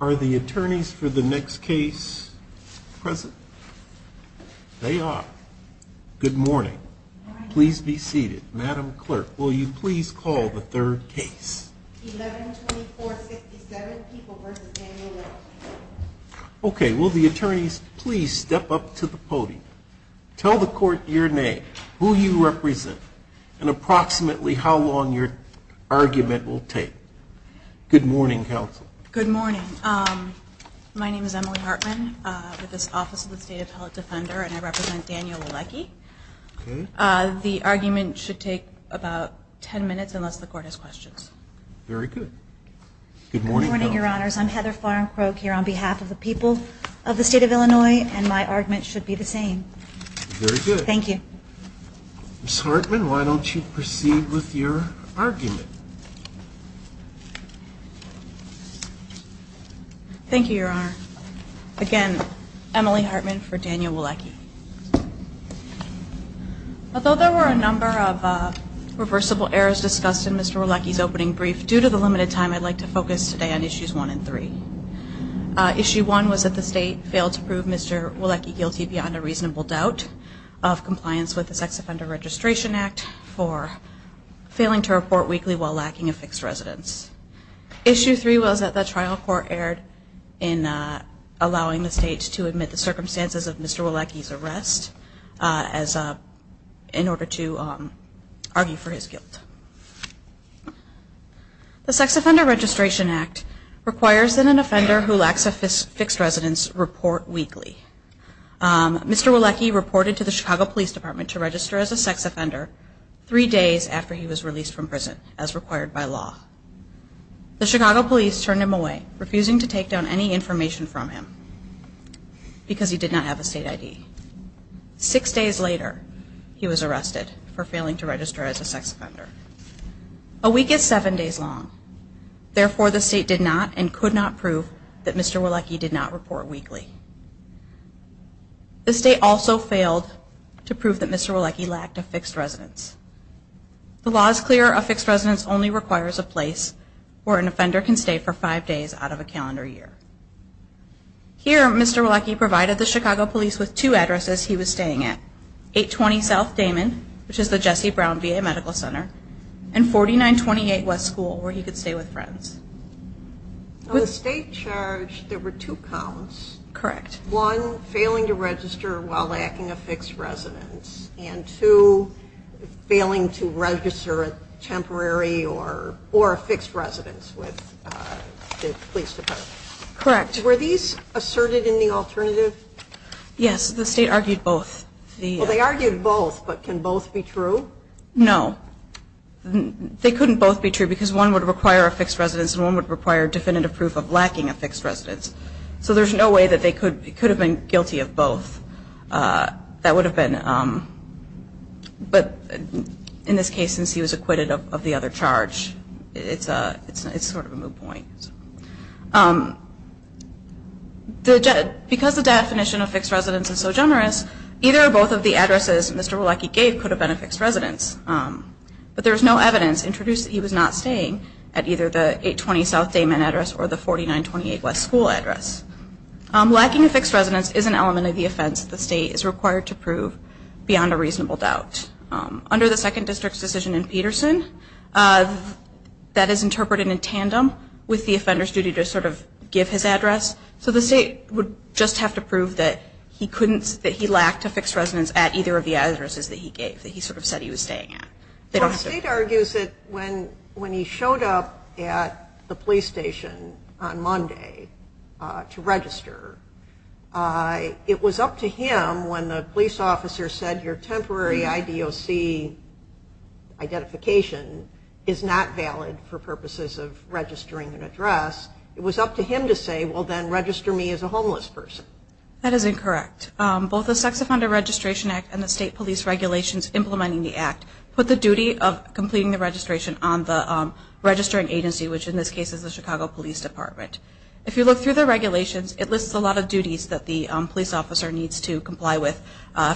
Are the attorneys for the next case present? They are. Good morning. Please be seated. Madam Clerk, will you please call the third case? 112467, People v. Daniel Welch. Okay, will the attorneys please step up to the podium? Tell the court your name, who you represent, and approximately how long your argument will take. Good morning, counsel. Good morning. My name is Emily Hartman with this Office of the State Appellate Defender, and I represent Daniel Wlecke. The argument should take about 10 minutes unless the court has questions. Very good. Good morning, counsel. Good morning, Your Honors. I'm Heather Farncroke here on behalf of the people of the State of Illinois, and my argument should be the same. Very good. Thank you. Ms. Hartman, why don't you proceed with your argument? Thank you, Your Honor. Again, Emily Hartman for Daniel Wlecke. Although there were a number of reversible errors discussed in Mr. Wlecke's opening brief, due to the limited time, I'd like to focus today on Issues 1 and 3. Issue 1 was that the State failed to prove Mr. Wlecke guilty beyond a reasonable doubt of compliance with the Sex Offender Registration Act for failing to report weekly while lacking a fixed residence. Issue 3 was that the trial court erred in allowing the State to admit the circumstances of Mr. Wlecke's arrest in order to argue for his guilt. The Sex Offender Registration Act requires that an offender who lacks a fixed residence report weekly. Mr. Wlecke reported to the Chicago Police Department to register as a sex offender three days after he was released from prison, as required by law. The Chicago Police turned him away, refusing to take down any information from him because he did not have a State ID. Six days later, he was arrested for failing to register as a sex offender. A week is seven days long. Therefore, the State did not and could not prove that Mr. Wlecke did not report weekly. The State also failed to prove that Mr. Wlecke lacked a fixed residence. The law is clear. A fixed residence only requires a place where an offender can stay for five days out of a calendar year. Here, Mr. Wlecke provided the Chicago Police with two addresses he was staying at. 820 South Damon, which is the Jesse Brown VA Medical Center, and 4928 West School, where he could stay with friends. On the State charge, there were two counts. Correct. One, failing to register while lacking a fixed residence, and two, failing to register a temporary or a fixed residence with the police department. Correct. Were these asserted in the alternative? Yes, the State argued both. Well, they argued both, but can both be true? No. They couldn't both be true because one would require a fixed residence and one would require definitive proof of lacking a fixed residence. So there's no way that they could have been guilty of both. That would have been, but in this case, since he was acquitted of the other charge, it's sort of a moot point. Because the definition of fixed residence is so generous, either or both of the addresses Mr. Wlecke gave could have been a fixed residence. But there is no evidence to introduce that he was not staying at either the 820 South Damon address or the 4928 West School address. Lacking a fixed residence is an element of the offense that the State is required to prove beyond a reasonable doubt. Under the Second District's decision in Peterson, that is interpreted in tandem with the offender's duty to sort of give his address. So the State would just have to prove that he lacked a fixed residence at either of the addresses that he gave, that he sort of said he was staying at. Well, the State argues that when he showed up at the police station on Monday to register, it was up to him when the police officer said your temporary IDOC identification is not valid for purposes of registering an address. It was up to him to say, well then, register me as a homeless person. That is incorrect. Both the Sex Offender Registration Act and the State Police Regulations implementing the Act put the duty of completing the registration on the registering agency, which in this case is the Chicago Police Department. If you look through the regulations, it lists a lot of duties that the police officer needs to comply with.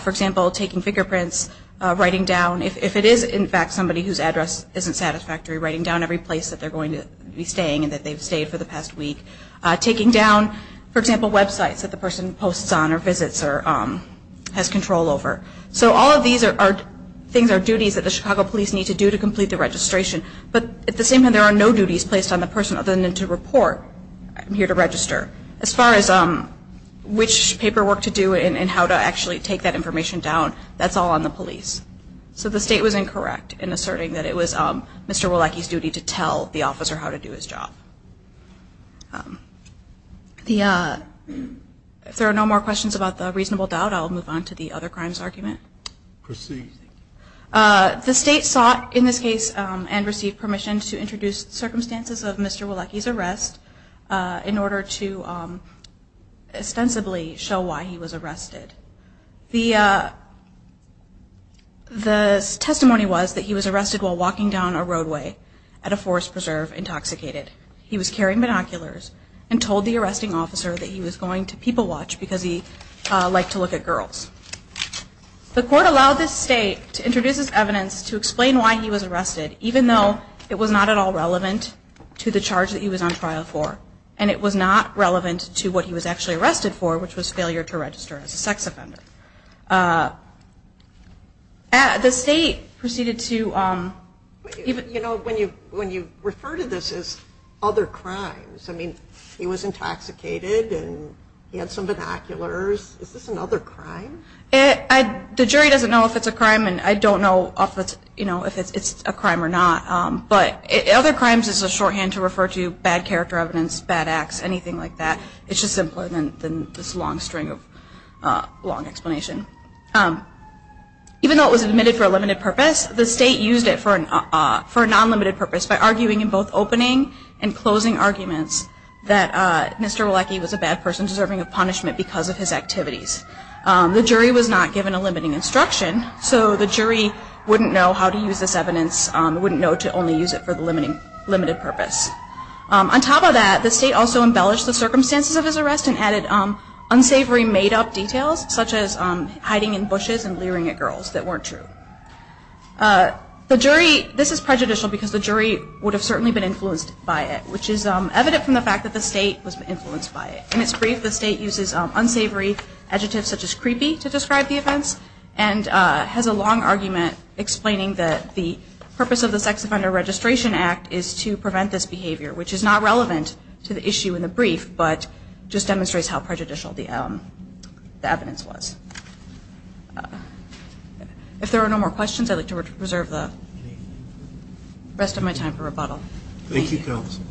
For example, taking fingerprints, writing down, if it is in fact somebody whose address isn't satisfactory, writing down every place that they're going to be staying and that they've stayed for the past week. Taking down, for example, websites that the person posts on or visits or has control over. So all of these things are duties that the Chicago Police need to do to complete the registration. But at the same time, there are no duties placed on the person other than to report, I'm here to register. As far as which paperwork to do and how to actually take that information down, that's all on the police. So the State was incorrect in asserting that it was Mr. Wolacki's duty to tell the officer how to do his job. If there are no more questions about the reasonable doubt, I'll move on to the other crimes argument. Proceed. The State sought in this case and received permission to introduce circumstances of Mr. Wolacki's arrest in order to ostensibly show why he was arrested. The testimony was that he was arrested while walking down a roadway at a forest preserve intoxicated. He was carrying binoculars and told the arresting officer that he was going to people watch because he liked to look at girls. The court allowed the State to introduce his evidence to explain why he was arrested, even though it was not at all relevant to the charge that he was on trial for. And it was not relevant to what he was actually arrested for, which was failure to register as a sex offender. The State proceeded to... You know, when you refer to this as other crimes, I mean, he was intoxicated and he had some binoculars. Is this another crime? The jury doesn't know if it's a crime, and I don't know if it's a crime or not. But other crimes is a shorthand to refer to bad character evidence, bad acts, anything like that. It's just simpler than this long string of long explanation. Even though it was admitted for a limited purpose, the State used it for a non-limited purpose by arguing in both opening and closing arguments that Mr. Wolacki was a bad person and deserving of punishment because of his activities. The jury was not given a limiting instruction, so the jury wouldn't know how to use this evidence, wouldn't know to only use it for the limited purpose. On top of that, the State also embellished the circumstances of his arrest and added unsavory made-up details such as hiding in bushes and leering at girls that weren't true. This is prejudicial because the jury would have certainly been influenced by it, which is evident from the fact that the State was influenced by it. In its brief, the State uses unsavory adjectives such as creepy to describe the events and has a long argument explaining that the purpose of the Sex Offender Registration Act is to prevent this behavior, which is not relevant to the issue in the brief, but just demonstrates how prejudicial the evidence was. If there are no more questions, I'd like to reserve the rest of my time for rebuttal. Thank you, Counsel.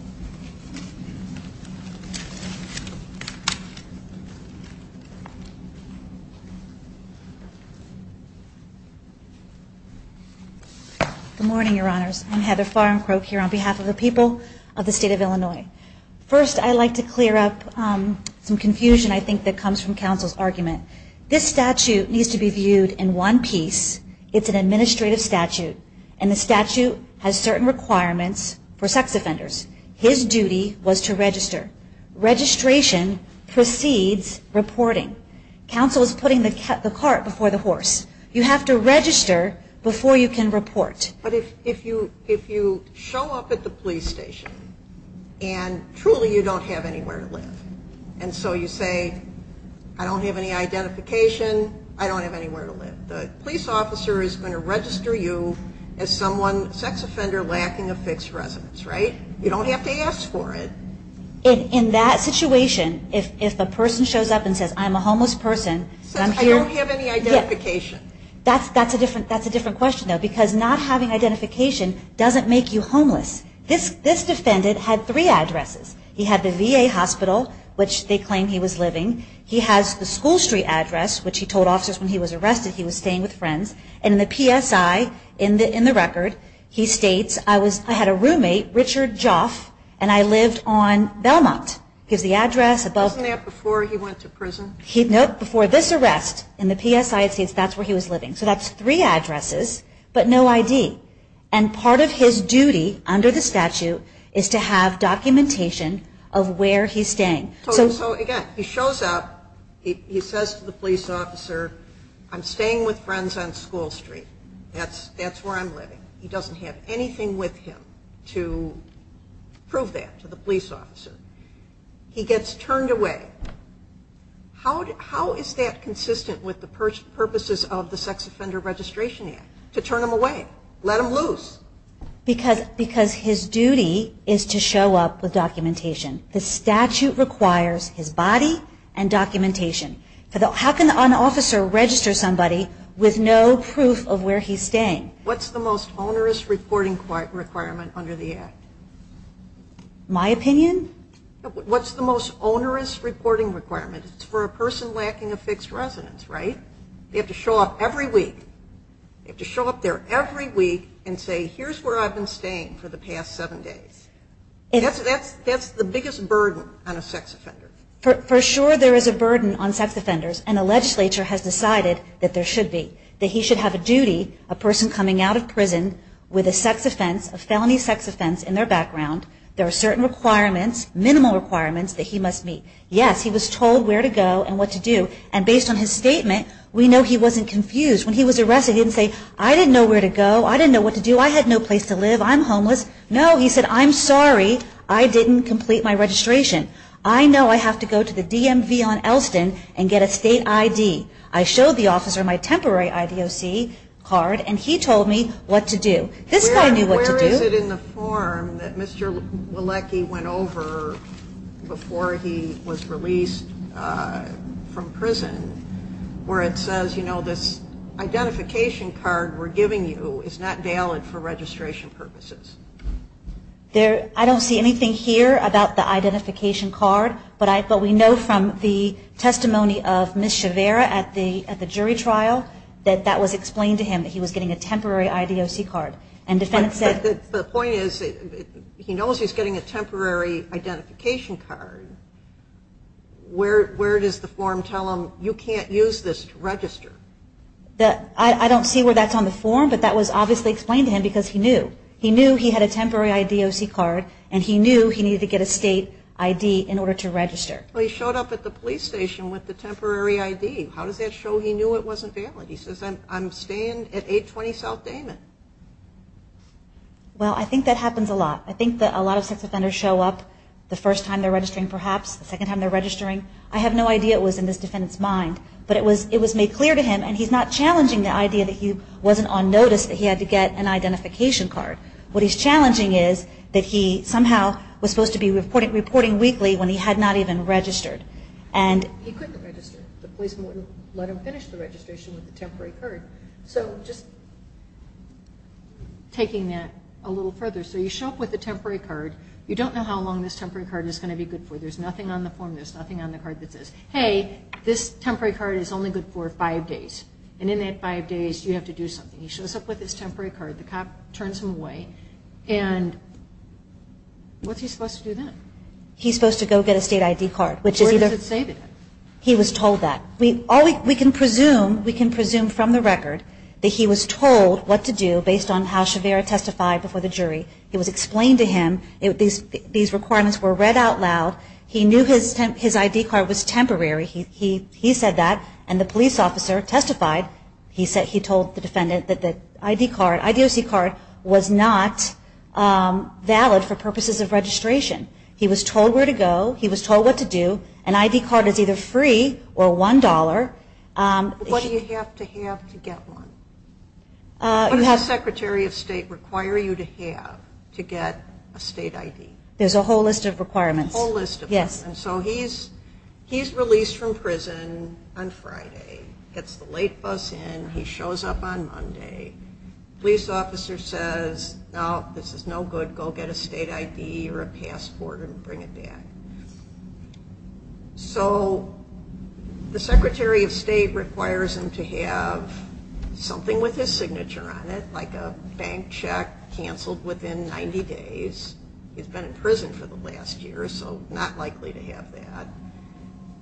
Good morning, Your Honors. I'm Heather Farncroft here on behalf of the people of the State of Illinois. First, I'd like to clear up some confusion I think that comes from Counsel's argument. This statute needs to be viewed in one piece. It's an administrative statute, and the statute has certain requirements for sex offenders. His duty was to register. Registration precedes reporting. Counsel is putting the cart before the horse. You have to register before you can report. But if you show up at the police station and truly you don't have anywhere to live, and so you say, I don't have any identification, I don't have anywhere to live. The police officer is going to register you as someone, a sex offender lacking a fixed residence, right? You don't have to ask for it. In that situation, if a person shows up and says, I'm a homeless person. Says, I don't have any identification. That's a different question, though, because not having identification doesn't make you homeless. This defendant had three addresses. He had the VA hospital, which they claimed he was living. He has the School Street address, which he told officers when he was arrested he was staying with friends. And in the PSI, in the record, he states, I had a roommate, Richard Joff, and I lived on Belmont. Gives the address. Wasn't that before he went to prison? No, before this arrest. In the PSI it says that's where he was living. So that's three addresses, but no ID. And part of his duty under the statute is to have documentation of where he's staying. So again, he shows up. He says to the police officer, I'm staying with friends on School Street. That's where I'm living. He doesn't have anything with him to prove that to the police officer. He gets turned away. How is that consistent with the purposes of the Sex Offender Registration Act, to turn him away, let him loose? Because his duty is to show up with documentation. The statute requires his body and documentation. How can an officer register somebody with no proof of where he's staying? What's the most onerous reporting requirement under the act? My opinion? What's the most onerous reporting requirement? It's for a person lacking a fixed residence, right? They have to show up every week. They have to show up there every week and say, here's where I've been staying for the past seven days. That's the biggest burden on a sex offender. For sure there is a burden on sex offenders, and the legislature has decided that there should be, that he should have a duty, a person coming out of prison with a sex offense, a felony sex offense in their background. There are certain requirements, minimal requirements, that he must meet. Yes, he was told where to go and what to do. And based on his statement, we know he wasn't confused. When he was arrested, he didn't say, I didn't know where to go. I didn't know what to do. I had no place to live. I'm homeless. No, he said, I'm sorry, I didn't complete my registration. I know I have to go to the DMV on Elston and get a state ID. I showed the officer my temporary IDOC card, and he told me what to do. This guy knew what to do. Where is it in the form that Mr. Walecki went over before he was released from prison where it says, you know, this identification card we're giving you is not valid for registration purposes? I don't see anything here about the identification card, but we know from the testimony of Ms. Chavera at the jury trial that that was explained to him, that he was getting a temporary IDOC card. But the point is, he knows he's getting a temporary identification card. Where does the form tell him, you can't use this to register? I don't see where that's on the form, but that was obviously explained to him because he knew. He knew he had a temporary IDOC card, and he knew he needed to get a state ID in order to register. Well, he showed up at the police station with the temporary ID. How does that show he knew it wasn't valid? He says, I'm staying at 820 South Damon. Well, I think that happens a lot. I think that a lot of sex offenders show up the first time they're registering perhaps, the second time they're registering. I have no idea it was in this defendant's mind, but it was made clear to him, and he's not challenging the idea that he wasn't on notice that he had to get an identification card. What he's challenging is that he somehow was supposed to be reporting weekly when he had not even registered. He couldn't register. The police wouldn't let him finish the registration with the temporary card. So just taking that a little further. So you show up with the temporary card. You don't know how long this temporary card is going to be good for. There's nothing on the form. There's nothing on the card that says, hey, this temporary card is only good for five days, and in that five days you have to do something. He shows up with his temporary card. The cop turns him away, and what's he supposed to do then? He's supposed to go get a state ID card, which is either. Where does it say that? He was told that. We can presume from the record that he was told what to do based on how Shavera testified before the jury. It was explained to him. These requirements were read out loud. He knew his ID card was temporary. He said that, and the police officer testified. He told the defendant that the ID card, IDOC card, was not valid for purposes of registration. He was told where to go. He was told what to do. An ID card is either free or $1. What do you have to have to get one? What does the Secretary of State require you to have to get a state ID? There's a whole list of requirements. A whole list of requirements. Yes. So he's released from prison on Friday, gets the late bus in. He shows up on Monday. Police officer says, no, this is no good. Go get a state ID or a passport and bring it back. So the Secretary of State requires him to have something with his signature on it, like a bank check canceled within 90 days. He's been in prison for the last year, so not likely to have that.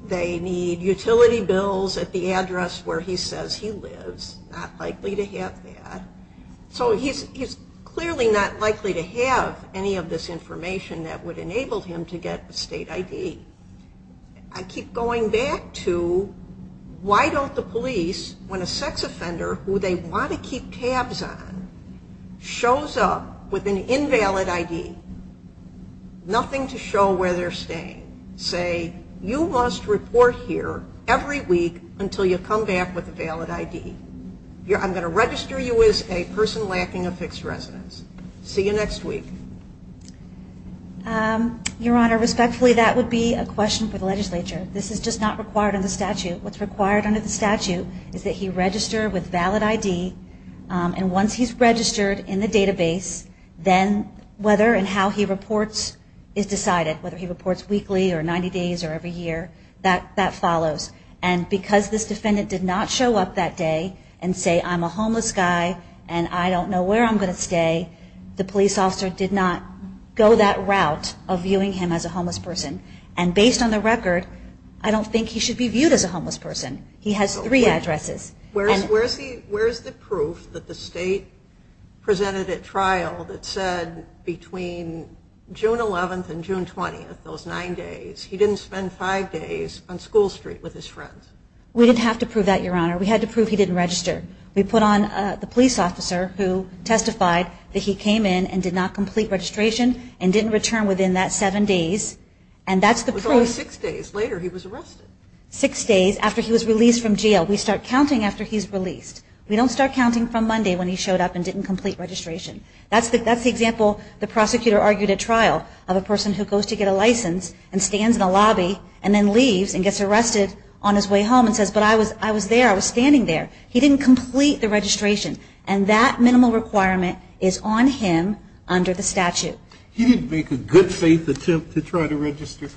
They need utility bills at the address where he says he lives. Not likely to have that. So he's clearly not likely to have any of this information that would enable him to get a state ID. I keep going back to why don't the police, when a sex offender who they want to keep tabs on, shows up with an invalid ID, nothing to show where they're staying, say, you must report here every week until you come back with a valid ID. I'm going to register you as a person lacking a fixed residence. See you next week. Your Honor, respectfully, that would be a question for the legislature. This is just not required under the statute. What's required under the statute is that he register with valid ID, and once he's registered in the database, then whether and how he reports is decided, whether he reports weekly or 90 days or every year, that follows. And because this defendant did not show up that day and say I'm a homeless guy and I don't know where I'm going to stay, the police officer did not go that route of viewing him as a homeless person. And based on the record, I don't think he should be viewed as a homeless person. He has three addresses. Where is the proof that the state presented at trial that said between June 11th and June 20th, those nine days, he didn't spend five days on School Street with his friends? We didn't have to prove that, Your Honor. We had to prove he didn't register. We put on the police officer who testified that he came in and did not complete registration and didn't return within that seven days, and that's the proof. It was only six days later he was arrested. Six days after he was released from jail. We start counting after he's released. We don't start counting from Monday when he showed up and didn't complete registration. That's the example the prosecutor argued at trial of a person who goes to get a license and stands in a lobby and then leaves and gets arrested on his way home and says, but I was there. I was standing there. He didn't complete the registration. And that minimal requirement is on him under the statute. He didn't make a good faith attempt to try to register.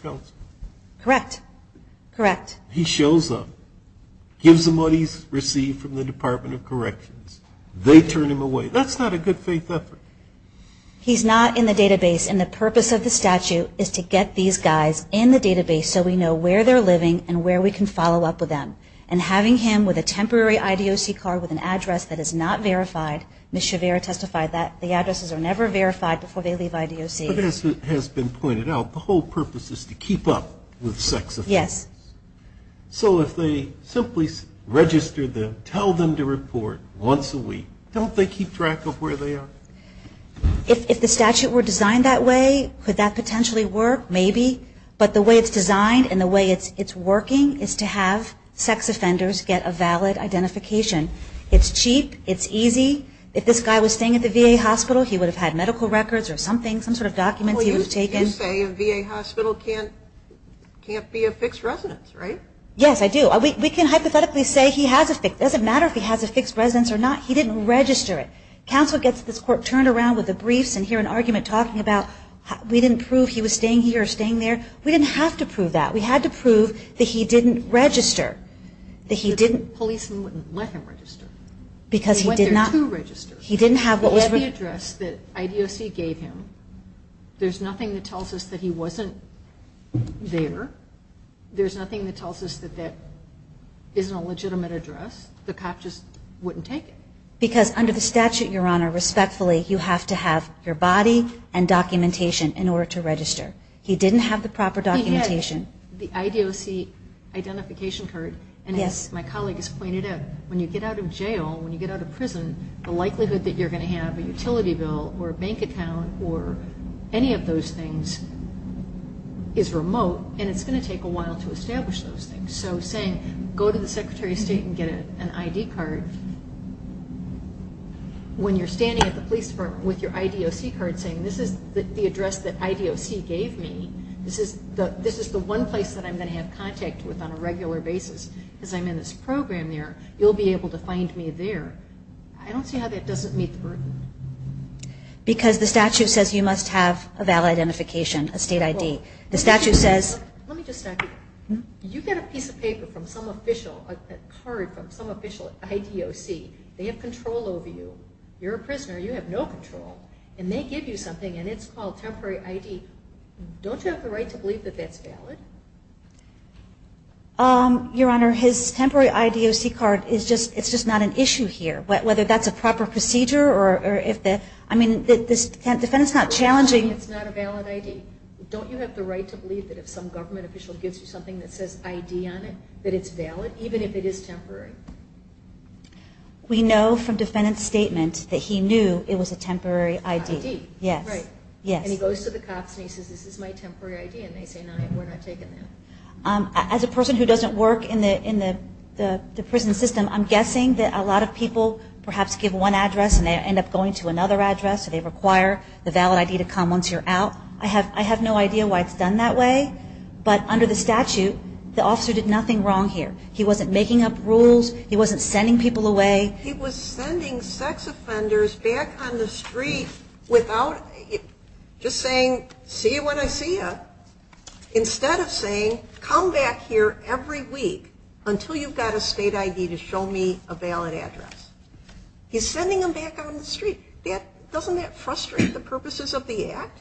Correct. Correct. He shows up, gives them what he's received from the Department of Corrections. They turn him away. That's not a good faith effort. He's not in the database, and the purpose of the statute is to get these guys in the database so we know where they're living and where we can follow up with them. And having him with a temporary IDOC card with an address that is not verified, Ms. Shavira testified that the addresses are never verified before they leave IDOC. But as has been pointed out, the whole purpose is to keep up with sex offenders. Yes. So if they simply register them, tell them to report once a week, don't they keep track of where they are? If the statute were designed that way, could that potentially work? Maybe. But the way it's designed and the way it's working is to have sex offenders get a valid identification. It's cheap. It's easy. If this guy was staying at the VA hospital, he would have had medical records or something, some sort of documents he would have taken. You say a VA hospital can't be a fixed residence, right? Yes, I do. We can hypothetically say he has a fixed residence. It doesn't matter if he has a fixed residence or not. He didn't register it. Counsel gets this court turned around with the briefs and hear an argument talking about we didn't prove he was staying here or staying there. We didn't have to prove that. We had to prove that he didn't register, that he didn't. The policeman wouldn't let him register. Because he did not. He went there to register. He didn't have whatever address that IDOC gave him. There's nothing that tells us that he wasn't there. There's nothing that tells us that that isn't a legitimate address. The cop just wouldn't take it. Because under the statute, Your Honor, respectfully, you have to have your body and documentation in order to register. He didn't have the proper documentation. He had the IDOC identification card, and as my colleague has pointed out, when you get out of jail, when you get out of prison, the likelihood that you're going to have a utility bill or a bank account or any of those things is remote, and it's going to take a while to establish those things. So saying, go to the Secretary of State and get an ID card, when you're standing at the police department with your IDOC card saying, this is the address that IDOC gave me, this is the one place that I'm going to have contact with on a regular basis as I'm in this program there, you'll be able to find me there, I don't see how that doesn't meet the burden. Because the statute says you must have a valid identification, a state ID. Let me just stop you there. You get a piece of paper from some official, a card from some official IDOC. They have control over you. You're a prisoner. You have no control. And they give you something, and it's called temporary ID. Don't you have the right to believe that that's valid? Your Honor, his temporary IDOC card, it's just not an issue here. Whether that's a proper procedure or if the, I mean, the defendant's not challenging. It's not a valid ID. Don't you have the right to believe that if some government official gives you something that says ID on it, that it's valid, even if it is temporary? We know from defendant's statement that he knew it was a temporary ID. ID, right. Yes. And he goes to the cops and he says, this is my temporary ID. And they say, no, we're not taking that. As a person who doesn't work in the prison system, I'm guessing that a lot of people perhaps give one address and they end up going to another address. They require the valid ID to come once you're out. I have no idea why it's done that way. But under the statute, the officer did nothing wrong here. He wasn't making up rules. He wasn't sending people away. He was sending sex offenders back on the street without just saying, see you when I see you, instead of saying, come back here every week until you've got a state ID to show me a valid address. He's sending them back on the street. Doesn't that frustrate the purposes of the act?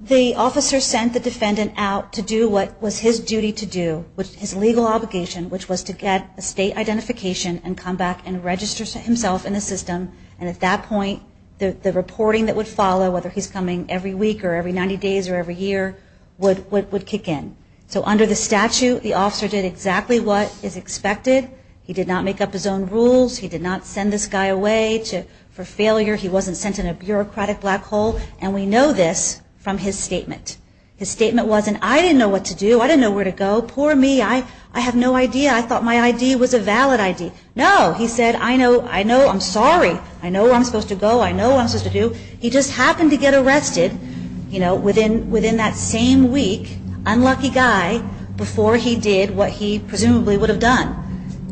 The officer sent the defendant out to do what was his duty to do, his legal obligation, which was to get a state identification and come back and register himself in the system. And at that point, the reporting that would follow, whether he's coming every week or every 90 days or every year, would kick in. So under the statute, the officer did exactly what is expected. He did not make up his own rules. He did not send this guy away for failure. He wasn't sent in a bureaucratic black hole. And we know this from his statement. His statement wasn't, I didn't know what to do. I didn't know where to go. Poor me. I have no idea. I thought my ID was a valid ID. No, he said, I know. I know. I'm sorry. I know where I'm supposed to go. I know what I'm supposed to do. He just happened to get arrested within that same week, unlucky guy, before he did what he presumably would have done,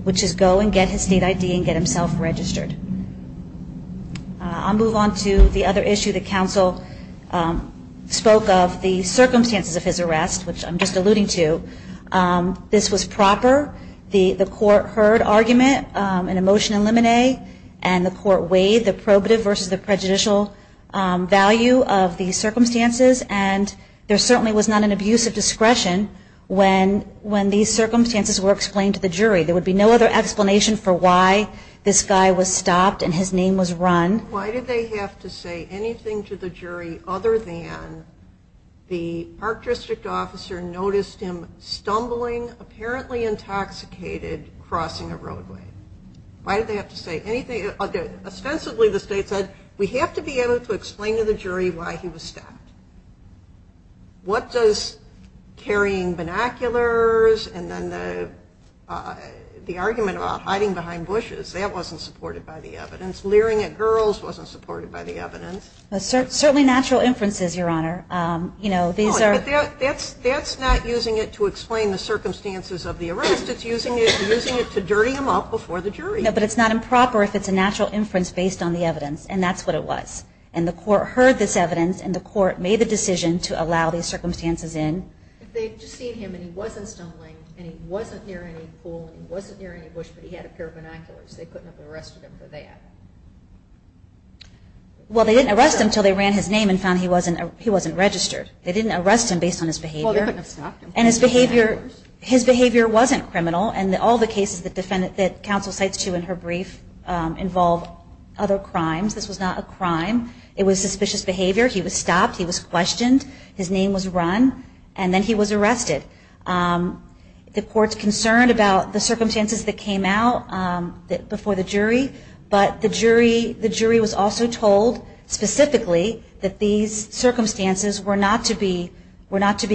which is go and get his state ID and get himself registered. I'll move on to the other issue that counsel spoke of, the circumstances of his arrest, which I'm just alluding to. This was proper. The court heard argument in a motion in limine, and the court weighed the probative versus the prejudicial value of the circumstances. And there certainly was not an abuse of discretion when these circumstances were explained to the jury. There would be no other explanation for why this guy was stopped and his name was run. Why did they have to say anything to the jury other than the Park District Officer noticed him stumbling, apparently intoxicated, crossing a roadway? Why did they have to say anything? Ostensibly the state said, we have to be able to explain to the jury why he was stopped. What does carrying binoculars and then the argument about hiding behind bushes, that wasn't supported by the evidence. Leering at girls wasn't supported by the evidence. Certainly natural inferences, Your Honor. That's not using it to explain the circumstances of the arrest. It's using it to dirty him up before the jury. But it's not improper if it's a natural inference based on the evidence, and that's what it was. And the court heard this evidence, and the court made the decision to allow these circumstances in. They had just seen him, and he wasn't stumbling, and he wasn't near any pool, and he wasn't near any bush, but he had a pair of binoculars. They couldn't have arrested him for that. Well, they didn't arrest him until they ran his name and found he wasn't registered. They didn't arrest him based on his behavior. Well, they couldn't have stopped him. And his behavior wasn't criminal, and all the cases that counsel cites to in her brief involve other crimes. This was not a crime. It was suspicious behavior. He was stopped. He was questioned. His name was run, and then he was arrested. The court's concerned about the circumstances that came out before the jury, but the jury was also told specifically that these circumstances were not to be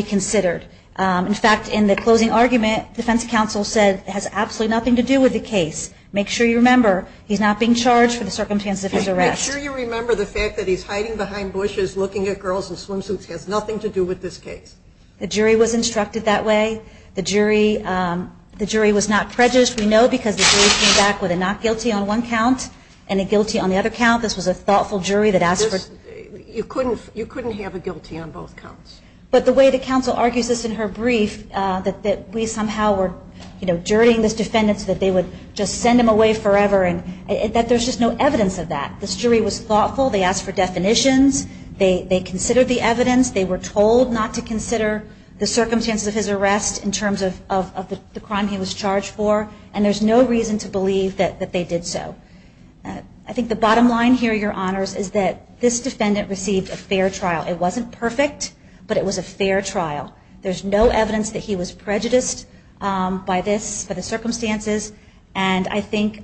considered. In fact, in the closing argument, defense counsel said it has absolutely nothing to do with the case. Make sure you remember he's not being charged for the circumstances of his arrest. Make sure you remember the fact that he's hiding behind bushes, looking at girls in swimsuits. It has nothing to do with this case. The jury was instructed that way. The jury was not prejudiced, we know, because the jury came back with a not guilty on one count and a guilty on the other count. This was a thoughtful jury that asked for. You couldn't have a guilty on both counts. But the way the counsel argues this in her brief, that we somehow were, you know, jurying this defendant so that they would just send him away forever, that there's just no evidence of that. This jury was thoughtful. They asked for definitions. They considered the evidence. They were told not to consider the circumstances of his arrest in terms of the crime he was charged for. And there's no reason to believe that they did so. I think the bottom line here, Your Honors, is that this defendant received a fair trial. It wasn't perfect, but it was a fair trial. There's no evidence that he was prejudiced by this, by the circumstances. And I think,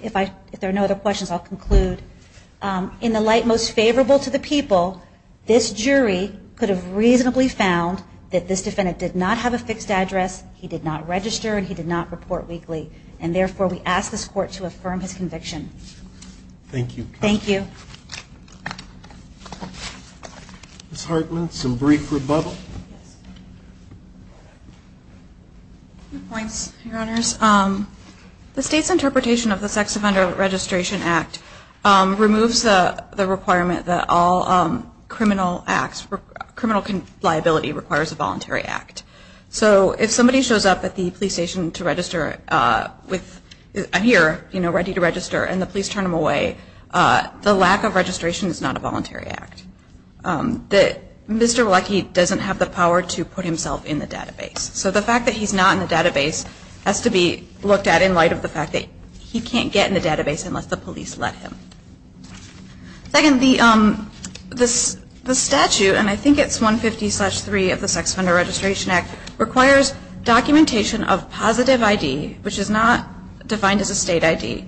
if there are no other questions, I'll conclude. In the light most favorable to the people, this jury could have reasonably found that this defendant did not have a fixed address, he did not register, and he did not report weekly. And, therefore, we ask this Court to affirm his conviction. Thank you. Thank you. Ms. Hartman, some brief rebuttal? Two points, Your Honors. The State's interpretation of the Sex Offender Registration Act removes the requirement that all criminal liability requires a voluntary act. So if somebody shows up at the police station to register, I'm here, ready to register, and the police turn them away, the lack of registration is not a voluntary act. Mr. Leckie doesn't have the power to put himself in the database. So the fact that he's not in the database has to be looked at in light of the fact that he can't get in the database unless the police let him. Second, the statute, and I think it's 150-3 of the Sex Offender Registration Act, requires documentation of positive ID, which is not defined as a state ID,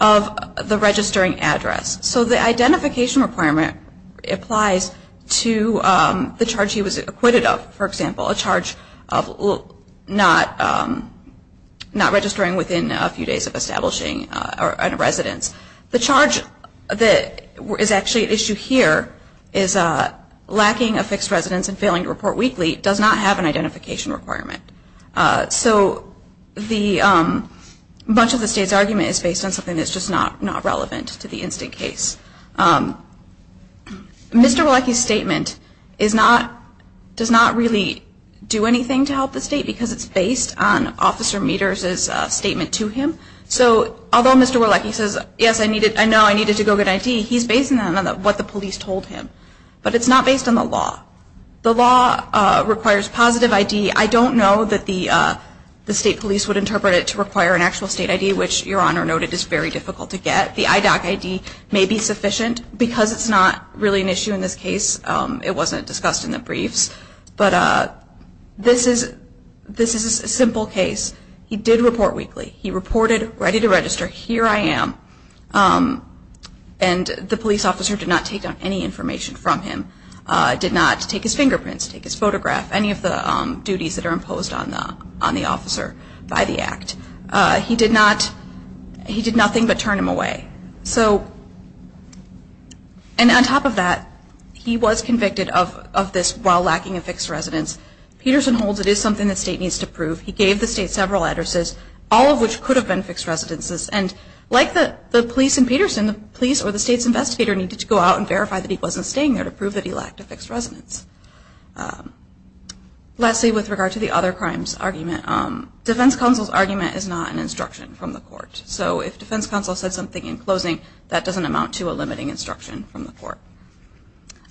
of the registering address. So the identification requirement applies to the charge he was acquitted of, for example, a charge of not registering within a few days of establishing a residence. The charge that is actually at issue here is lacking a fixed residence and failing to report weekly does not have an identification requirement. So much of the State's argument is based on something that's just not relevant to the in-state case. Mr. Leckie's statement does not really do anything to help the State because it's based on Officer Meters' statement to him. So although Mr. Leckie says, yes, I know I needed to go get ID, he's based on what the police told him. But it's not based on the law. The law requires positive ID. I don't know that the State police would interpret it to require an actual state ID, which Your Honor noted is very difficult to get. The IDOC ID may be sufficient because it's not really an issue in this case. It wasn't discussed in the briefs. But this is a simple case. He did report weekly. He reported, ready to register, here I am. And the police officer did not take down any information from him, did not take his fingerprints, take his photograph, any of the duties that are imposed on the officer by the act. He did nothing but turn him away. And on top of that, he was convicted of this while lacking a fixed residence. Peterson holds it is something the State needs to prove. He gave the State several addresses, all of which could have been fixed residences. And like the police in Peterson, the police or the State's investigator needed to go out and verify that he wasn't staying there to prove that he lacked a fixed residence. Lastly, with regard to the other crimes argument, defense counsel's argument is not an instruction from the court. So if defense counsel said something in closing, that doesn't amount to a limiting instruction from the court.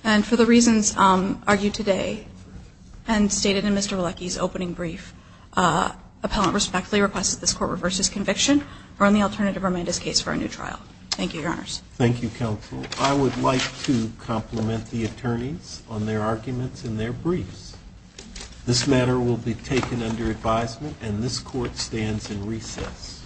And for the reasons argued today and stated in Mr. Vilecki's opening brief, appellant respectfully requests that this court reverse his conviction or in the alternative remand his case for a new trial. Thank you, Your Honors. Thank you, counsel. I would like to compliment the attorneys on their arguments and their briefs. This matter will be taken under advisement, and this court stands in recess.